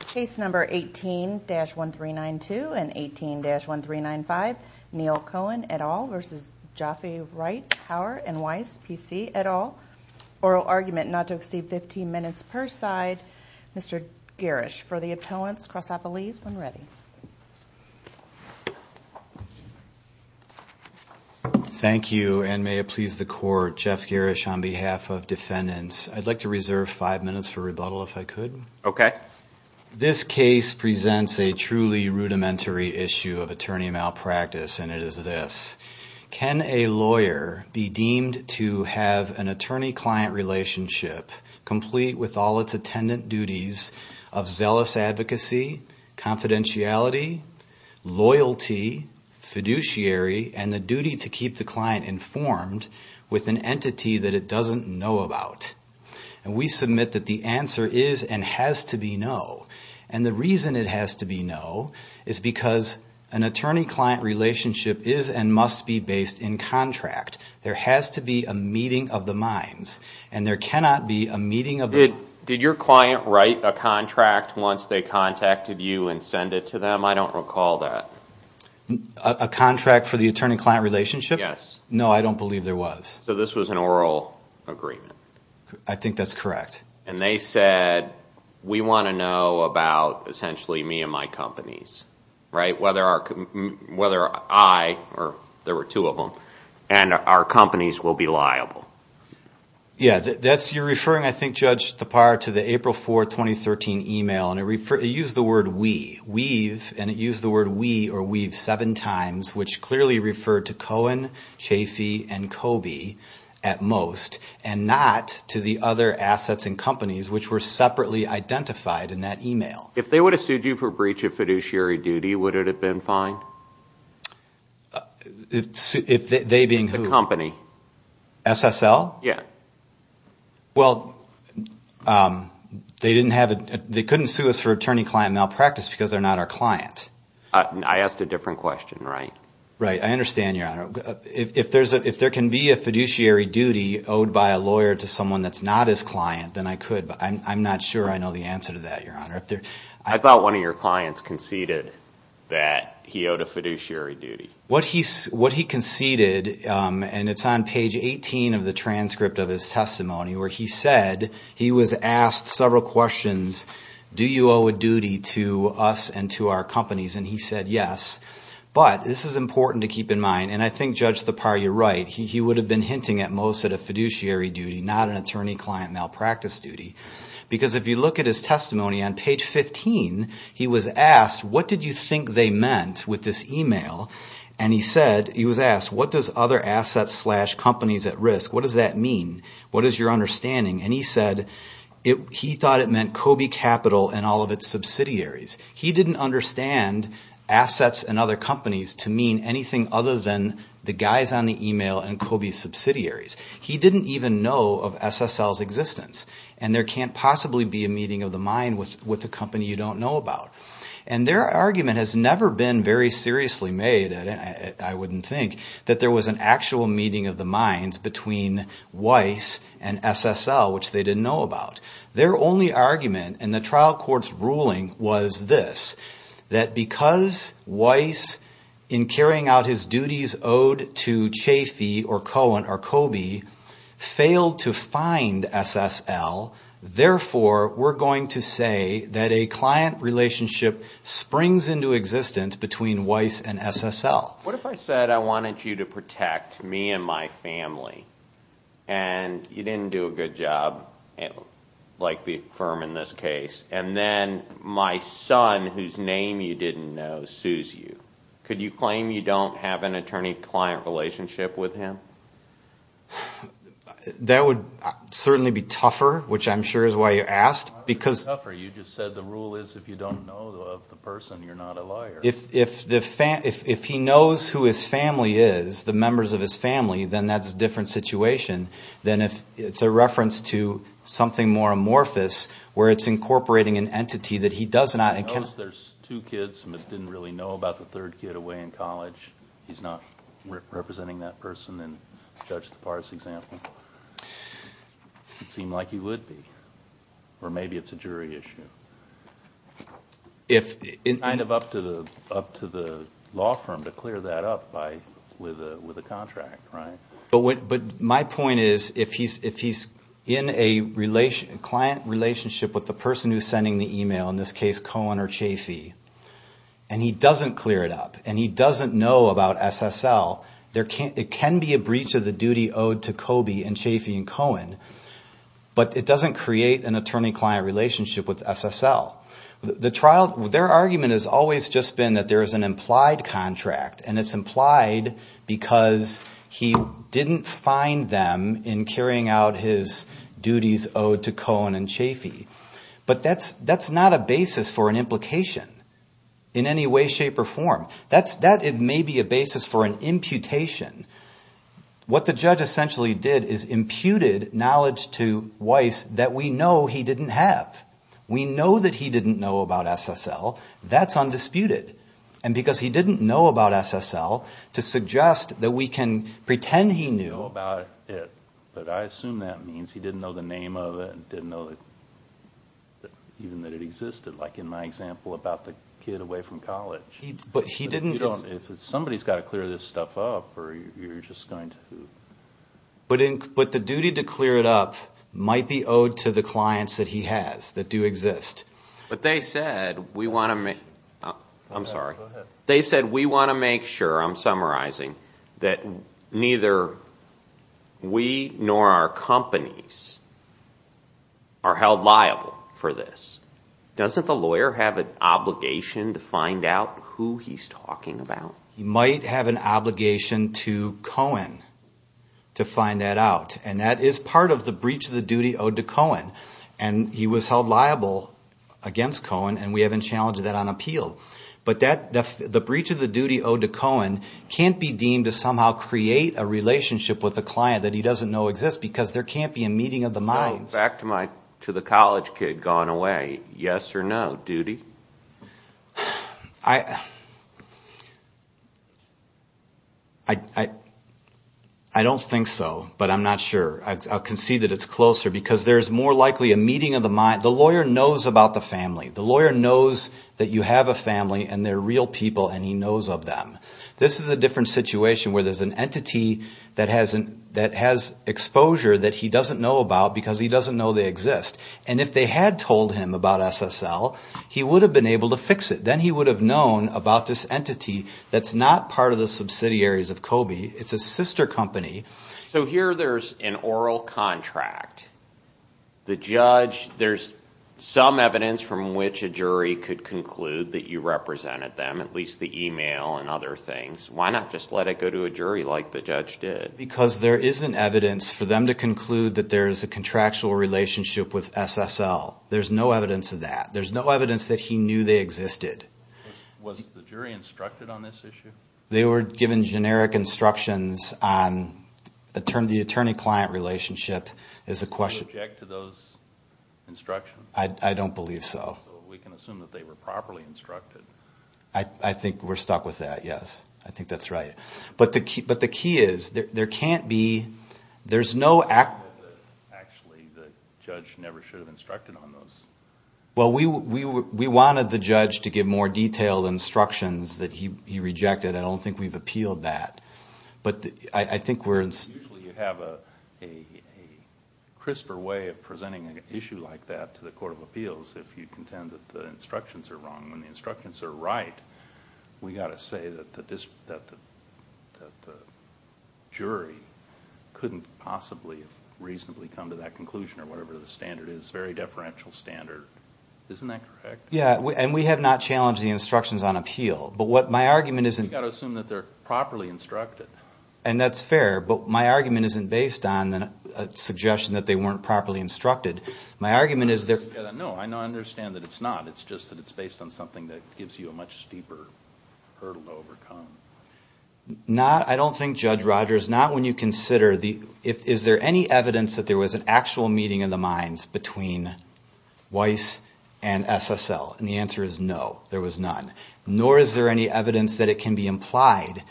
Case number 18-1392 and 18-1395, Neal Cohen et al. v. Jaffe Raitt Heuer and Weiss PC et al. Oral argument not to exceed 15 minutes per side. Mr. Garish, for the appellants, cross off a lease when ready. Thank you and may it please the court, Jeff Garish on behalf of defendants. I'd like to reserve five minutes for rebuttal if I could. Okay. This case presents a truly rudimentary issue of attorney malpractice and it is this. Can a lawyer be deemed to have an attorney-client relationship complete with all its attendant duties of zealous advocacy, confidentiality, loyalty, fiduciary, and the duty to keep the client informed with an entity that it doesn't know about? And we submit that the answer is and has to be no. And the reason it has to be no is because an attorney-client relationship is and must be based in contract. There has to be a meeting of the minds and there cannot be a meeting of the... Did your client write a contract once they contacted you and send it to them? I don't recall that. A contract for the attorney-client relationship? Yes. No, I don't believe there was. So this was an oral agreement. I think that's correct. And they said we want to know about essentially me and my companies, right? Whether I, or there were two of them, and our companies will be liable. Yeah, you're referring, I think, Judge Tappar, to the April 4, 2013 email. And it used the word we, we've, and it used the word we or we've seven times, which clearly referred to Cohen, Chafee, and Coby at most, and not to the other assets and companies which were separately identified in that email. If they would have sued you for breach of fiduciary duty, would it have been fine? If they being who? The company. SSL? Yeah. Well, they didn't have, they couldn't sue us for attorney-client malpractice because they're not our client. I asked a different question, right? Right. I understand, Your Honor. If there can be a fiduciary duty owed by a lawyer to someone that's not his client, then I could. But I'm not sure I know the answer to that, Your Honor. I thought one of your clients conceded that he owed a fiduciary duty. What he conceded, and it's on page 18 of the transcript of his testimony, where he said he was asked several questions, do you owe a duty to us and to our companies? And he said yes. But this is important to keep in mind, and I think, Judge, Thapar, you're right. He would have been hinting at most at a fiduciary duty, not an attorney-client malpractice duty. Because if you look at his testimony on page 15, he was asked, what did you think they meant with this email? And he said, he was asked, what does other assets slash companies at risk, what does that mean? What is your understanding? And he said he thought it meant Kobe Capital and all of its subsidiaries. He didn't understand assets and other companies to mean anything other than the guys on the email and Kobe's subsidiaries. He didn't even know of SSL's existence. And there can't possibly be a meeting of the mind with a company you don't know about. And their argument has never been very seriously made, I wouldn't think, that there was an actual meeting of the minds between Weiss and SSL, which they didn't know about. Their only argument in the trial court's ruling was this, that because Weiss, in carrying out his duties owed to Chafee or Cohen or Kobe, failed to find SSL, therefore we're going to say that a client relationship springs into existence between Weiss and SSL. What if I said I wanted you to protect me and my family, and you didn't do a good job, like the firm in this case, and then my son, whose name you didn't know, sues you? Could you claim you don't have an attorney-client relationship with him? That would certainly be tougher, which I'm sure is why you asked. You just said the rule is if you don't know the person, you're not a liar. If he knows who his family is, the members of his family, then that's a different situation than if it's a reference to something more amorphous, where it's incorporating an entity that he does not. If he knows there's two kids and didn't really know about the third kid away in college, he's not representing that person in Judge Tappar's example, it would seem like he would be. Or maybe it's a jury issue. It's kind of up to the law firm to clear that up with a contract, right? But my point is, if he's in a client relationship with the person who's sending the email, in this case Cohen or Chafee, and he doesn't clear it up, and he doesn't know about SSL, it can be a breach of the duty owed to Kobe and Chafee and Cohen, but it doesn't create an attorney-client relationship with SSL. Their argument has always just been that there's an implied contract, and it's implied because he didn't find them in carrying out his duties owed to Cohen and Chafee. But that's not a basis for an implication in any way, shape, or form. That may be a basis for an imputation. What the judge essentially did is imputed knowledge to Weiss that we know he didn't have. We know that he didn't know about SSL. That's undisputed. And because he didn't know about SSL, to suggest that we can pretend he knew about it, but I assume that means he didn't know the name of it and didn't know even that it existed, like in my example about the kid away from college. But he didn't... If somebody's got to clear this stuff up, or you're just going to... But the duty to clear it up might be owed to the clients that he has, that do exist. But they said we want to make sure, I'm summarizing, that neither we nor our companies are held liable for this. Doesn't the lawyer have an obligation to find out who he's talking about? He might have an obligation to Cohen to find that out, and that is part of the breach of the duty owed to Cohen. And he was held liable against Cohen, and we haven't challenged that on appeal. But the breach of the duty owed to Cohen can't be deemed to somehow create a relationship with a client that he doesn't know exists because there can't be a meeting of the minds. Back to the college kid gone away, yes or no duty? I don't think so, but I'm not sure. I can see that it's closer because there's more likely a meeting of the mind. The lawyer knows about the family. The lawyer knows that you have a family, and they're real people, and he knows of them. This is a different situation where there's an entity that has exposure that he doesn't know about because he doesn't know they exist. And if they had told him about SSL, he would have been able to fix it. Then he would have known about this entity that's not part of the subsidiaries of COBE. It's a sister company. So here there's an oral contract. The judge, there's some evidence from which a jury could conclude that you represented them, at least the email and other things. Why not just let it go to a jury like the judge did? Because there isn't evidence for them to conclude that there's a contractual relationship with SSL. There's no evidence of that. There's no evidence that he knew they existed. Was the jury instructed on this issue? They were given generic instructions on the attorney-client relationship. Do you object to those instructions? I don't believe so. So we can assume that they were properly instructed. I think we're stuck with that, yes. I think that's right. But the key is there can't be, there's no act. Actually, the judge never should have instructed on those. Well, we wanted the judge to give more detailed instructions that he rejected. I don't think we've appealed that. Usually you have a crisper way of presenting an issue like that to the court of appeals if you contend that the instructions are wrong. When the instructions are right, we've got to say that the jury couldn't possibly reasonably come to that conclusion or whatever the standard is. It's a very deferential standard. Isn't that correct? Yeah, and we have not challenged the instructions on appeal. You've got to assume that they're properly instructed. And that's fair. But my argument isn't based on a suggestion that they weren't properly instructed. No, I understand that it's not. It's just that it's based on something that gives you a much steeper hurdle to overcome. I don't think, Judge Rodgers, is there any evidence that there was an actual meeting in the minds between Weiss and SSL? And the answer is no, there was none. Nor is there any evidence that it can be implied.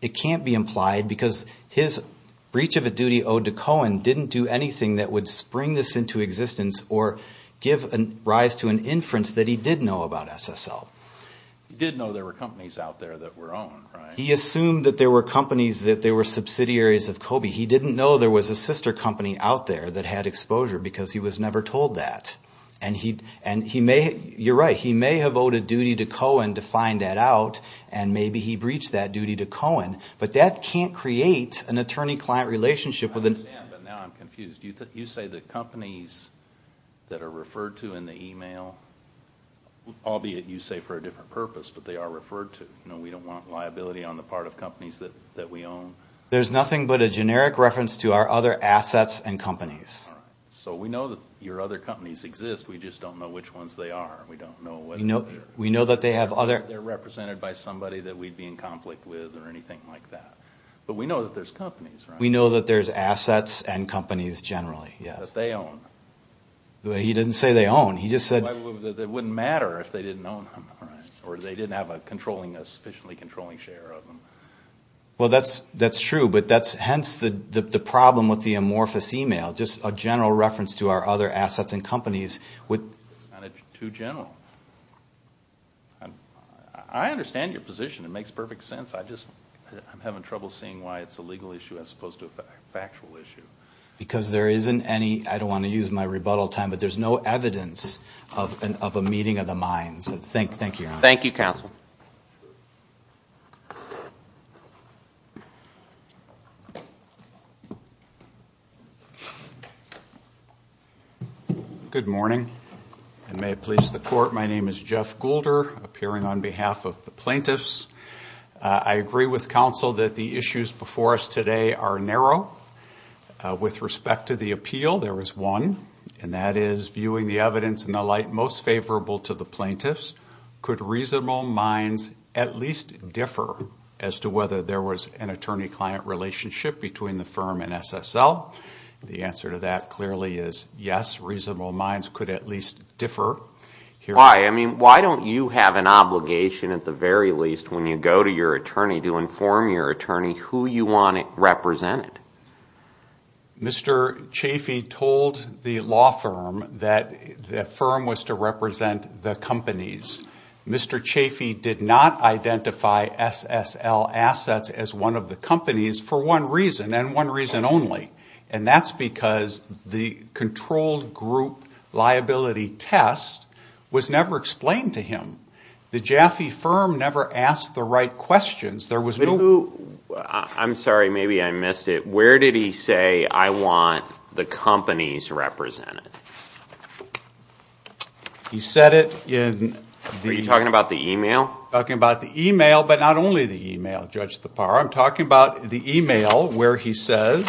It can't be implied because his breach of a duty owed to Cohen didn't do anything that would spring this into existence or give rise to an inference that he did know about SSL. He did know there were companies out there that were owned, right? He assumed that there were companies that they were subsidiaries of COBE. He didn't know there was a sister company out there that had exposure because he was never told that. And he may, you're right, he may have owed a duty to Cohen to find that out, and maybe he breached that duty to Cohen. But that can't create an attorney-client relationship. I understand, but now I'm confused. You say the companies that are referred to in the email, albeit you say for a different purpose, but they are referred to. We don't want liability on the part of companies that we own. There's nothing but a generic reference to our other assets and companies. So we know that your other companies exist, we just don't know which ones they are. We don't know whether they're represented by somebody that we'd be in conflict with or anything like that. But we know that there's companies, right? We know that there's assets and companies generally, yes. That they own. He didn't say they own. It wouldn't matter if they didn't own them. Or they didn't have a sufficiently controlling share of them. Well, that's true. But that's hence the problem with the amorphous email, just a general reference to our other assets and companies. It's too general. I understand your position. It makes perfect sense. I'm having trouble seeing why it's a legal issue as opposed to a factual issue. Because there isn't any, I don't want to use my rebuttal time, but there's no evidence of a meeting of the minds. Thank you, Your Honor. Thank you, Counsel. Good morning, and may it please the Court. My name is Jeff Goulder, appearing on behalf of the plaintiffs. I agree with Counsel that the issues before us today are narrow. With respect to the appeal, there is one, and that is viewing the evidence and the like most favorable to the plaintiffs. Could reasonable minds at least differ as to whether there was an attorney-client relationship between the firm and SSL? The answer to that clearly is yes, reasonable minds could at least differ. Why? I mean, why don't you have an obligation at the very least when you go to your attorney to inform your attorney who you want represented? Mr. Chaffee told the law firm that the firm was to represent the companies. Mr. Chaffee did not identify SSL assets as one of the companies for one reason, and one reason only, and that's because the controlled group liability test was never explained to him. The Jaffe firm never asked the right questions. I'm sorry, maybe I missed it. Where did he say, I want the companies represented? He said it in the email, but not only the email, Judge Tappara. I'm talking about the email where he says,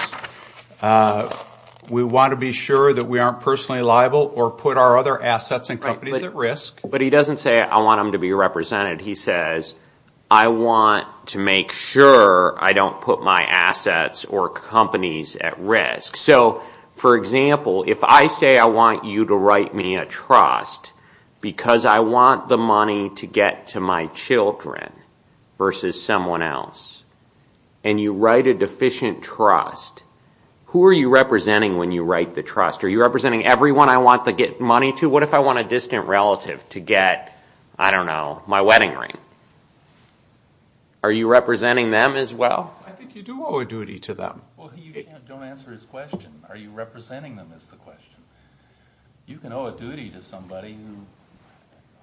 we want to be sure that we aren't personally liable or put our other assets and companies at risk. But he doesn't say, I want them to be represented. He says, I want to make sure I don't put my assets or companies at risk. So, for example, if I say I want you to write me a trust because I want the money to get to my children versus someone else, and you write a deficient trust, who are you representing when you write the trust? Are you representing everyone I want to get money to? So what if I want a distant relative to get, I don't know, my wedding ring? Are you representing them as well? I think you do owe a duty to them. Well, you don't answer his question. Are you representing them is the question. You can owe a duty to somebody who,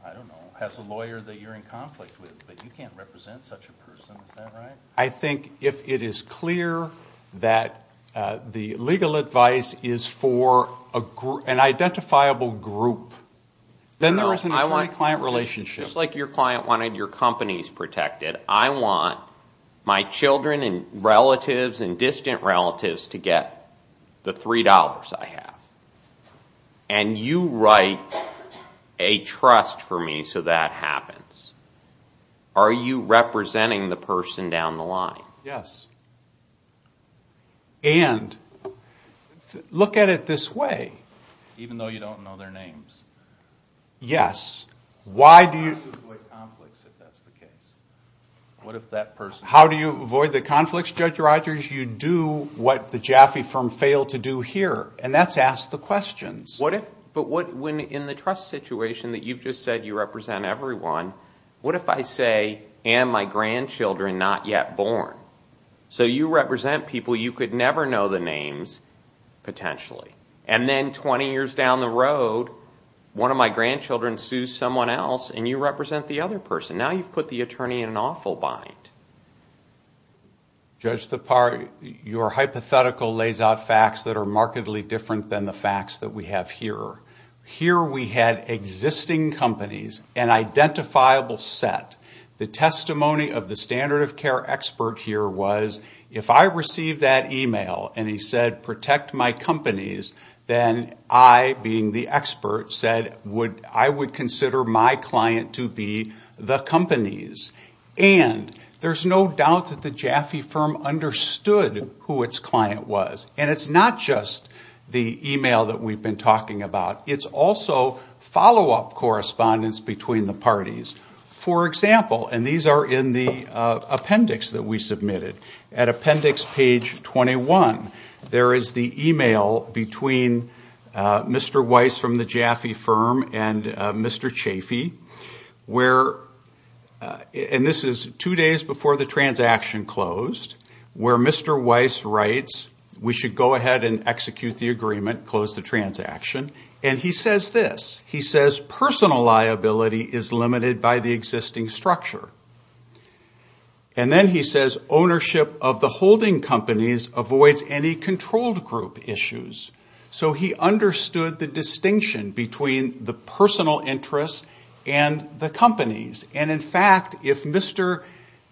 I don't know, has a lawyer that you're in conflict with, but you can't represent such a person, is that right? I think if it is clear that the legal advice is for an identifiable group, then there is an attorney-client relationship. Just like your client wanted your companies protected, I want my children and relatives and distant relatives to get the $3 I have. And you write a trust for me so that happens. Are you representing the person down the line? Yes. And look at it this way. Even though you don't know their names? Yes. How do you avoid conflicts if that's the case? How do you avoid the conflicts, Judge Rogers? You do what the Jaffe firm failed to do here, and that's ask the questions. But in the trust situation that you've just said you represent everyone, what if I say, am my grandchildren not yet born? So you represent people you could never know the names potentially. And then 20 years down the road, one of my grandchildren sues someone else, and you represent the other person. Now you've put the attorney in an awful bind. Judge Thapar, your hypothetical lays out facts that are markedly different than the facts that we have here. Here we had existing companies, an identifiable set. The testimony of the standard of care expert here was, if I received that email and he said protect my companies, then I, being the expert, said I would consider my client to be the companies. And there's no doubt that the Jaffe firm understood who its client was. And it's not just the email that we've been talking about. It's also follow-up correspondence between the parties. For example, and these are in the appendix that we submitted. At appendix page 21, there is the email between Mr. Weiss from the Jaffe firm and Mr. Jaffe, and this is two days before the transaction closed, where Mr. Weiss writes we should go ahead and execute the agreement, close the transaction, and he says this. He says personal liability is limited by the existing structure. And then he says ownership of the holding companies avoids any controlled group issues. So he understood the distinction between the personal interests and the companies. And, in fact, if Mr.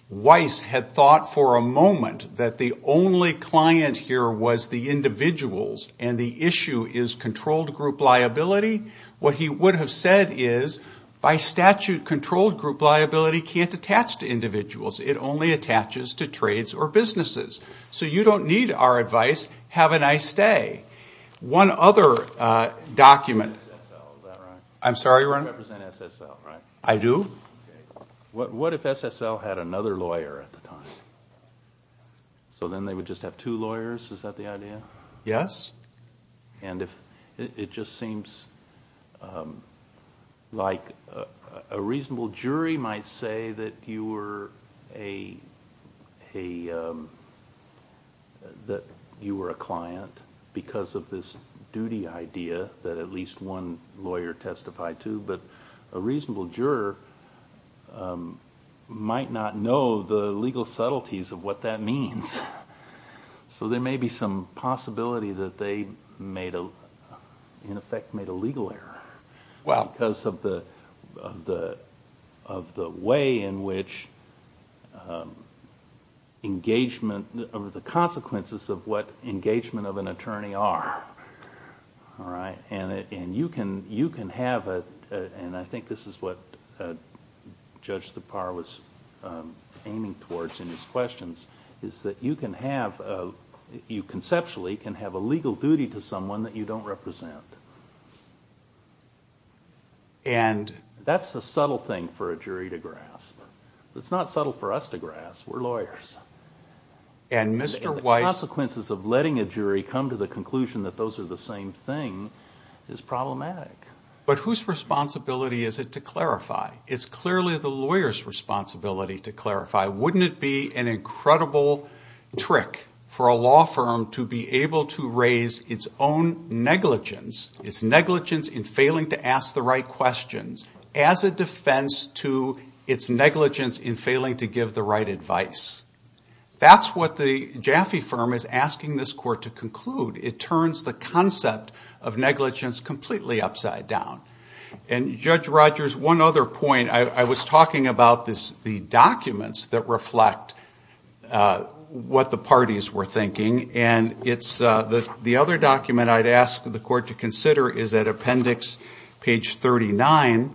Weiss had thought for a moment that the only client here was the individuals and the issue is controlled group liability, what he would have said is, by statute, controlled group liability can't attach to individuals. It only attaches to trades or businesses. So you don't need our advice. Have a nice day. One other document. I'm sorry, Ron? You represent SSL, right? I do. What if SSL had another lawyer at the time? So then they would just have two lawyers? Is that the idea? Yes. It just seems like a reasonable jury might say that you were a client because of this duty idea that at least one lawyer testified to, but a reasonable juror might not know the legal subtleties of what that means. So there may be some possibility that they in effect made a legal error because of the way in which engagement, the consequences of what engagement of an attorney are. And you can have a, and I think this is what Judge Tappar was aiming towards in his questions, is that you can have, you conceptually can have a legal duty to someone that you don't represent. That's a subtle thing for a jury to grasp. It's not subtle for us to grasp. We're lawyers. And the consequences of letting a jury come to the conclusion that those are the same thing is problematic. But whose responsibility is it to clarify? It's clearly the lawyer's responsibility to clarify. Wouldn't it be an incredible trick for a law firm to be able to raise its own negligence, its negligence in failing to ask the right questions, as a defense to its negligence in failing to give the right advice? That's what the Jaffe firm is asking this court to conclude. It turns the concept of negligence completely upside down. And, Judge Rogers, one other point. I was talking about the documents that reflect what the parties were thinking, and it's the other document I'd ask the court to consider is at appendix page 39.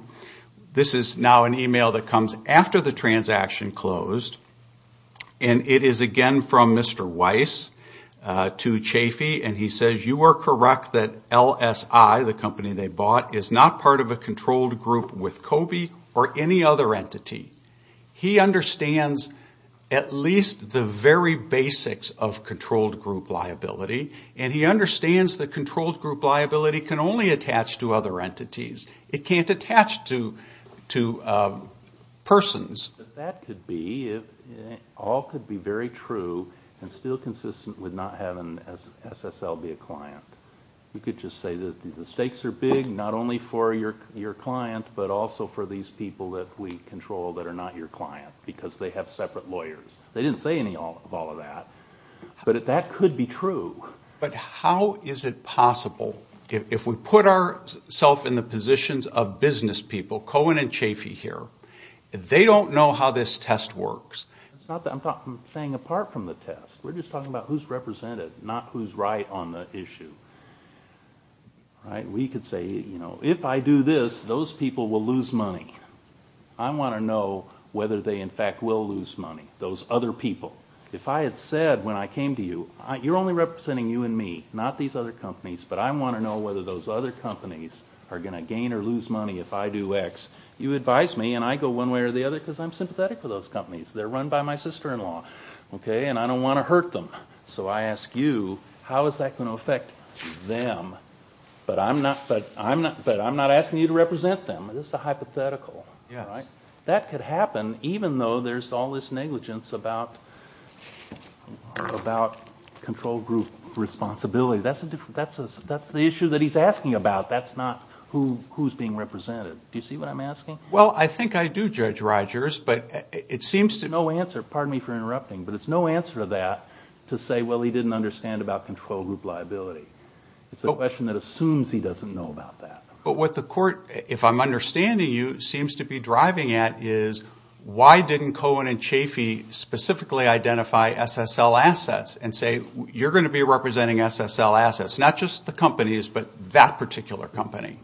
This is now an email that comes after the transaction closed, and it is again from Mr. Weiss to Jaffe, and he says you are correct that LSI, the company they bought, is not part of a controlled group with COBE or any other entity. He understands at least the very basics of controlled group liability, and he understands that controlled group liability can only attach to other entities. It can't attach to persons. That could be. All could be very true and still consistent with not having SSL be a client. You could just say that the stakes are big, not only for your client, but also for these people that we control that are not your client, because they have separate lawyers. They didn't say any of all of that, but that could be true. But how is it possible, if we put ourselves in the positions of business people, Cohen and Jaffe here, they don't know how this test works. I'm saying apart from the test. We're just talking about who's represented, not who's right on the issue. We could say, if I do this, those people will lose money. I want to know whether they in fact will lose money, those other people. If I had said when I came to you, you're only representing you and me, not these other companies, but I want to know whether those other companies are going to gain or lose money if I do X. You advise me, and I go one way or the other because I'm sympathetic for those companies. They're run by my sister-in-law, and I don't want to hurt them. So I ask you, how is that going to affect them? But I'm not asking you to represent them. This is a hypothetical. That could happen, even though there's all this negligence about control group responsibility. That's the issue that he's asking about. That's not who's being represented. Do you see what I'm asking? Well, I think I do, Judge Rogers, but it seems to be no answer. Pardon me for interrupting, but it's no answer to that to say, well, he didn't understand about control group liability. It's a question that assumes he doesn't know about that. But what the court, if I'm understanding you, seems to be driving at is, why didn't Cohen and Chafee specifically identify SSL assets and say, you're going to be representing SSL assets, not just the companies, but that particular company?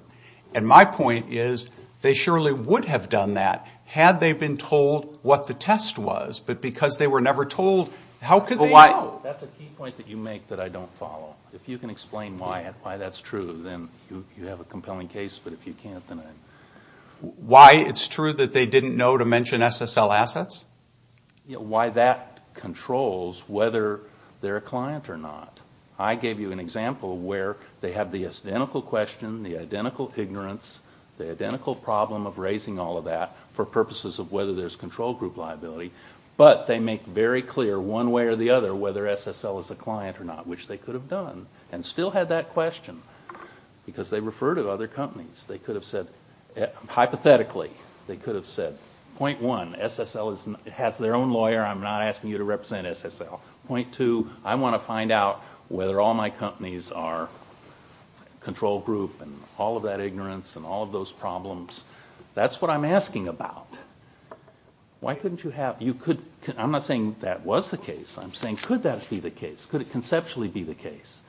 And my point is, they surely would have done that had they been told what the test was, but because they were never told, how could they know? That's a key point that you make that I don't follow. If you can explain why that's true, then you have a compelling case. But if you can't, then I'm… Why it's true that they didn't know to mention SSL assets? Why that controls whether they're a client or not. I gave you an example where they have the identical question, the identical ignorance, the identical problem of raising all of that for purposes of whether there's control group liability, but they make very clear one way or the other whether SSL is a client or not, which they could have done and still had that question because they refer to other companies. They could have said, hypothetically, they could have said, point one, SSL has their own lawyer. I'm not asking you to represent SSL. Point two, I want to find out whether all my companies are control group and all of that ignorance and all of those problems. That's what I'm asking about. Why couldn't you have – I'm not saying that was the case. I'm saying could that be the case? Could it conceptually be the case?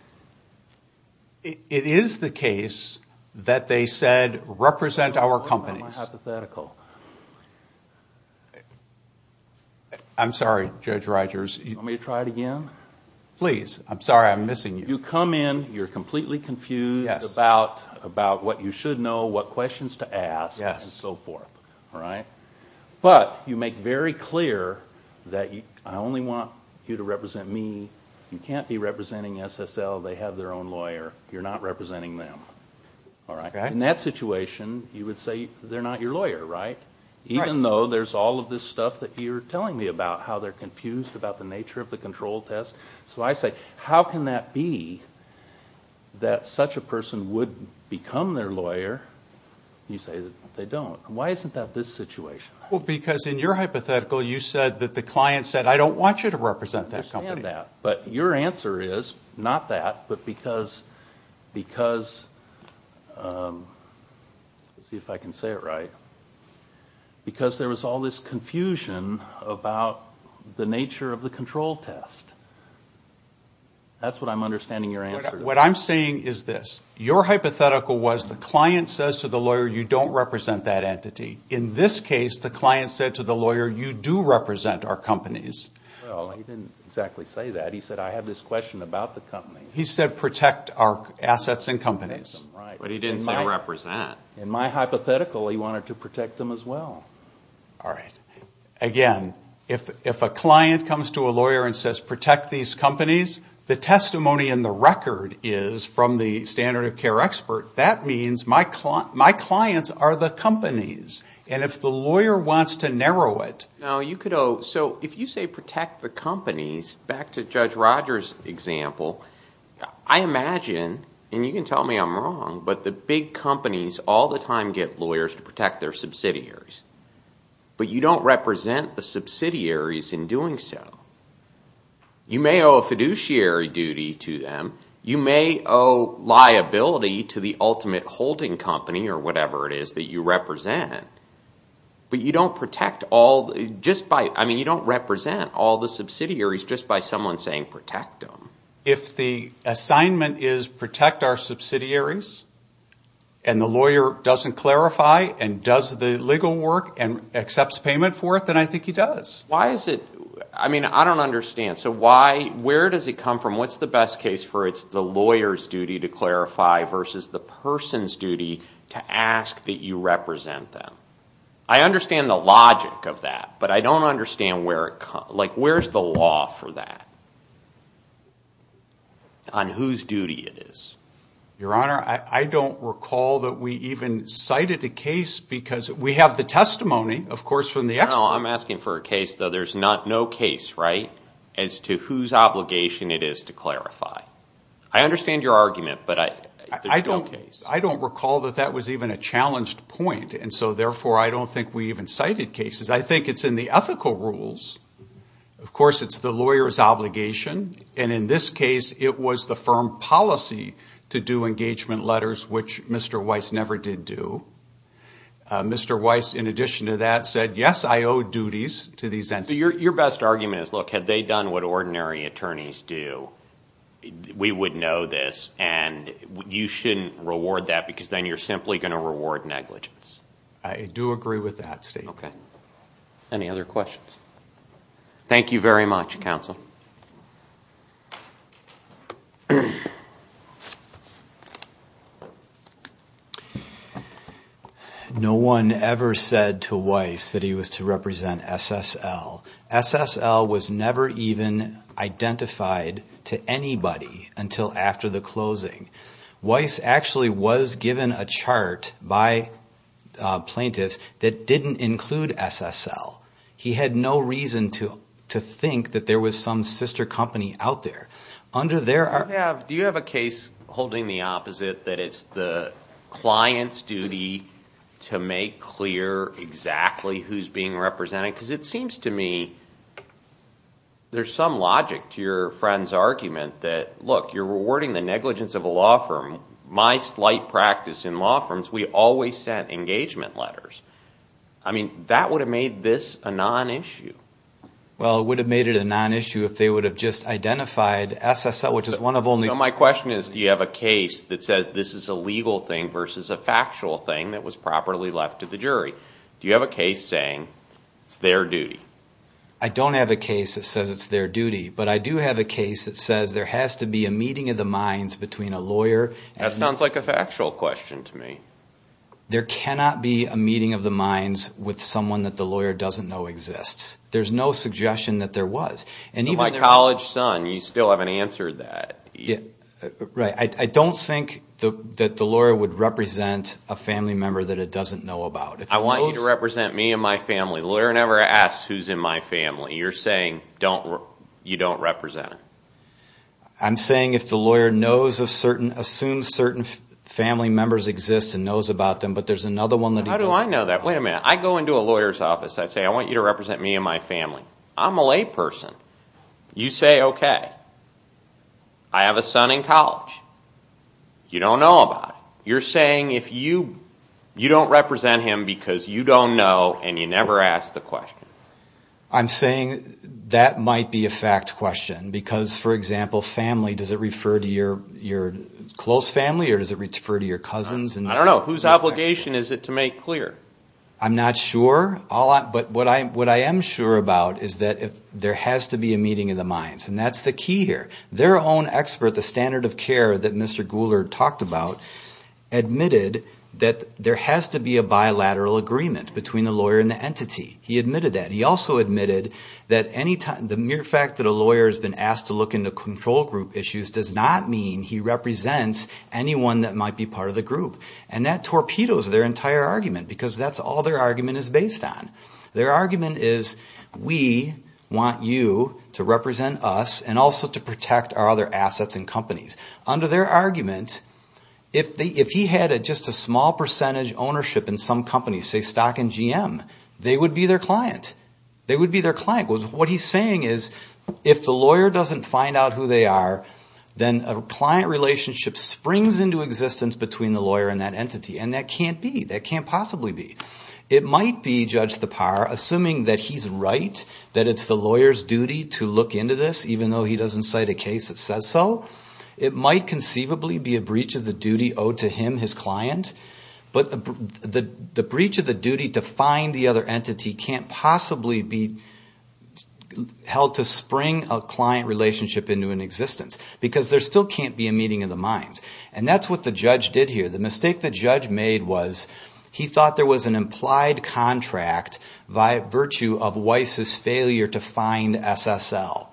It is the case that they said, represent our companies. That's my hypothetical. I'm sorry, Judge Rogers. Do you want me to try it again? Please. I'm sorry. I'm missing you. You come in, you're completely confused about what you should know, what questions to ask, and so forth. But you make very clear that I only want you to represent me. You can't be representing SSL. They have their own lawyer. You're not representing them. In that situation, you would say they're not your lawyer, right? Even though there's all of this stuff that you're telling me about, how they're confused about the nature of the control test. So I say, how can that be that such a person would become their lawyer? You say that they don't. Why isn't that this situation? Because in your hypothetical, you said that the client said, I don't want you to represent that company. I understand that. But your answer is, not that, but because there was all this confusion about the nature of the control test. That's what I'm understanding your answer to. What I'm saying is this. Your hypothetical was the client says to the lawyer, you don't represent that entity. In this case, the client said to the lawyer, you do represent our companies. Well, he didn't exactly say that. He said, I have this question about the company. He said, protect our assets and companies. But he didn't say represent. In my hypothetical, he wanted to protect them as well. All right. Again, if a client comes to a lawyer and says, protect these companies, the testimony in the record is from the standard of care expert. That means my clients are the companies. And if the lawyer wants to narrow it. If you say protect the companies, back to Judge Rogers' example, I imagine, and you can tell me I'm wrong, but the big companies all the time get lawyers to protect their subsidiaries. But you don't represent the subsidiaries in doing so. You may owe a fiduciary duty to them. You may owe liability to the ultimate holding company or whatever it is that you represent. But you don't protect all, just by, I mean, you don't represent all the subsidiaries just by someone saying protect them. If the assignment is protect our subsidiaries, and the lawyer doesn't clarify and does the legal work and accepts payment for it, then I think he does. Why is it, I mean, I don't understand. So why, where does it come from? What's the best case for it's the lawyer's duty to clarify versus the person's duty to ask that you represent them? I understand the logic of that, but I don't understand where it comes, like where's the law for that? On whose duty it is. Your Honor, I don't recall that we even cited a case, because we have the testimony, of course, from the expert. No, I'm asking for a case, though there's no case, right, as to whose obligation it is to clarify. I understand your argument, but there's no case. I don't recall that that was even a challenged point, and so therefore I don't think we even cited cases. I think it's in the ethical rules. Of course, it's the lawyer's obligation, and in this case it was the firm policy to do engagement letters, which Mr. Weiss never did do. Mr. Weiss, in addition to that, said, yes, I owe duties to these entities. Your best argument is, look, had they done what ordinary attorneys do, we would know this, and you shouldn't reward that, because then you're simply going to reward negligence. I do agree with that statement. Okay. Any other questions? Thank you very much, counsel. Thank you. No one ever said to Weiss that he was to represent SSL. SSL was never even identified to anybody until after the closing. Weiss actually was given a chart by plaintiffs that didn't include SSL. He had no reason to think that there was some sister company out there. Do you have a case holding the opposite, that it's the client's duty to make clear exactly who's being represented? Because it seems to me there's some logic to your friend's argument that, look, you're rewarding the negligence of a law firm. My slight practice in law firms, we always sent engagement letters. I mean, that would have made this a non-issue. Well, it would have made it a non-issue if they would have just identified SSL, which is one of only two. So my question is, do you have a case that says this is a legal thing versus a factual thing that was properly left to the jury? Do you have a case saying it's their duty? I don't have a case that says it's their duty, but I do have a case that says there has to be a meeting of the minds between a lawyer and an attorney. That sounds like a factual question to me. There cannot be a meeting of the minds with someone that the lawyer doesn't know exists. There's no suggestion that there was. My college son, you still haven't answered that. Right. I don't think that the lawyer would represent a family member that it doesn't know about. I want you to represent me and my family. The lawyer never asks who's in my family. You're saying you don't represent it. I'm saying if the lawyer assumes certain family members exist and knows about them, but there's another one that he doesn't. How do I know that? Wait a minute. I go into a lawyer's office, I say, I want you to represent me and my family. I'm a layperson. You say, okay. I have a son in college. You don't know about it. You're saying you don't represent him because you don't know and you never ask the question. I'm saying that might be a fact question because, for example, family, does it refer to your close family or does it refer to your cousins? I don't know. Whose obligation is it to make clear? I'm not sure. But what I am sure about is that there has to be a meeting of the minds, and that's the key here. Their own expert, the standard of care that Mr. Goulart talked about, admitted that there has to be a bilateral agreement between the lawyer and the entity. He admitted that. He also admitted that the mere fact that a lawyer has been asked to look into control group issues does not mean he represents anyone that might be part of the group. And that torpedoes their entire argument because that's all their argument is based on. Their argument is we want you to represent us and also to protect our other assets and companies. Under their argument, if he had just a small percentage ownership in some companies, say Stock and GM, they would be their client. They would be their client. What he's saying is if the lawyer doesn't find out who they are, then a client relationship springs into existence between the lawyer and that entity. And that can't be. That can't possibly be. It might be, Judge Thapar, assuming that he's right, that it's the lawyer's duty to look into this, even though he doesn't cite a case that says so. It might conceivably be a breach of the duty owed to him, his client. But the breach of the duty to find the other entity can't possibly be held to spring a client relationship into existence because there still can't be a meeting of the minds. And that's what the judge did here. The mistake the judge made was he thought there was an implied contract by virtue of Weiss's failure to find SSL.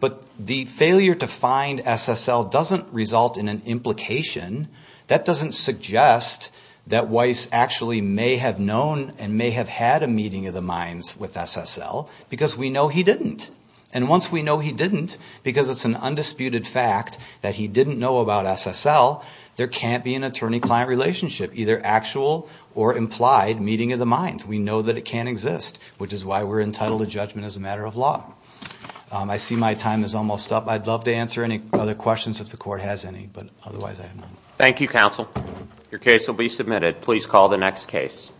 But the failure to find SSL doesn't result in an implication. That doesn't suggest that Weiss actually may have known and may have had a meeting of the minds with SSL because we know he didn't. And once we know he didn't, because it's an undisputed fact that he didn't know about SSL, there can't be an attorney-client relationship, either actual or implied meeting of the minds. We know that it can't exist, which is why we're entitled to judgment as a matter of law. I see my time is almost up. I'd love to answer any other questions if the Court has any, but otherwise I have none. Thank you, counsel. Your case will be submitted. Please call the next case.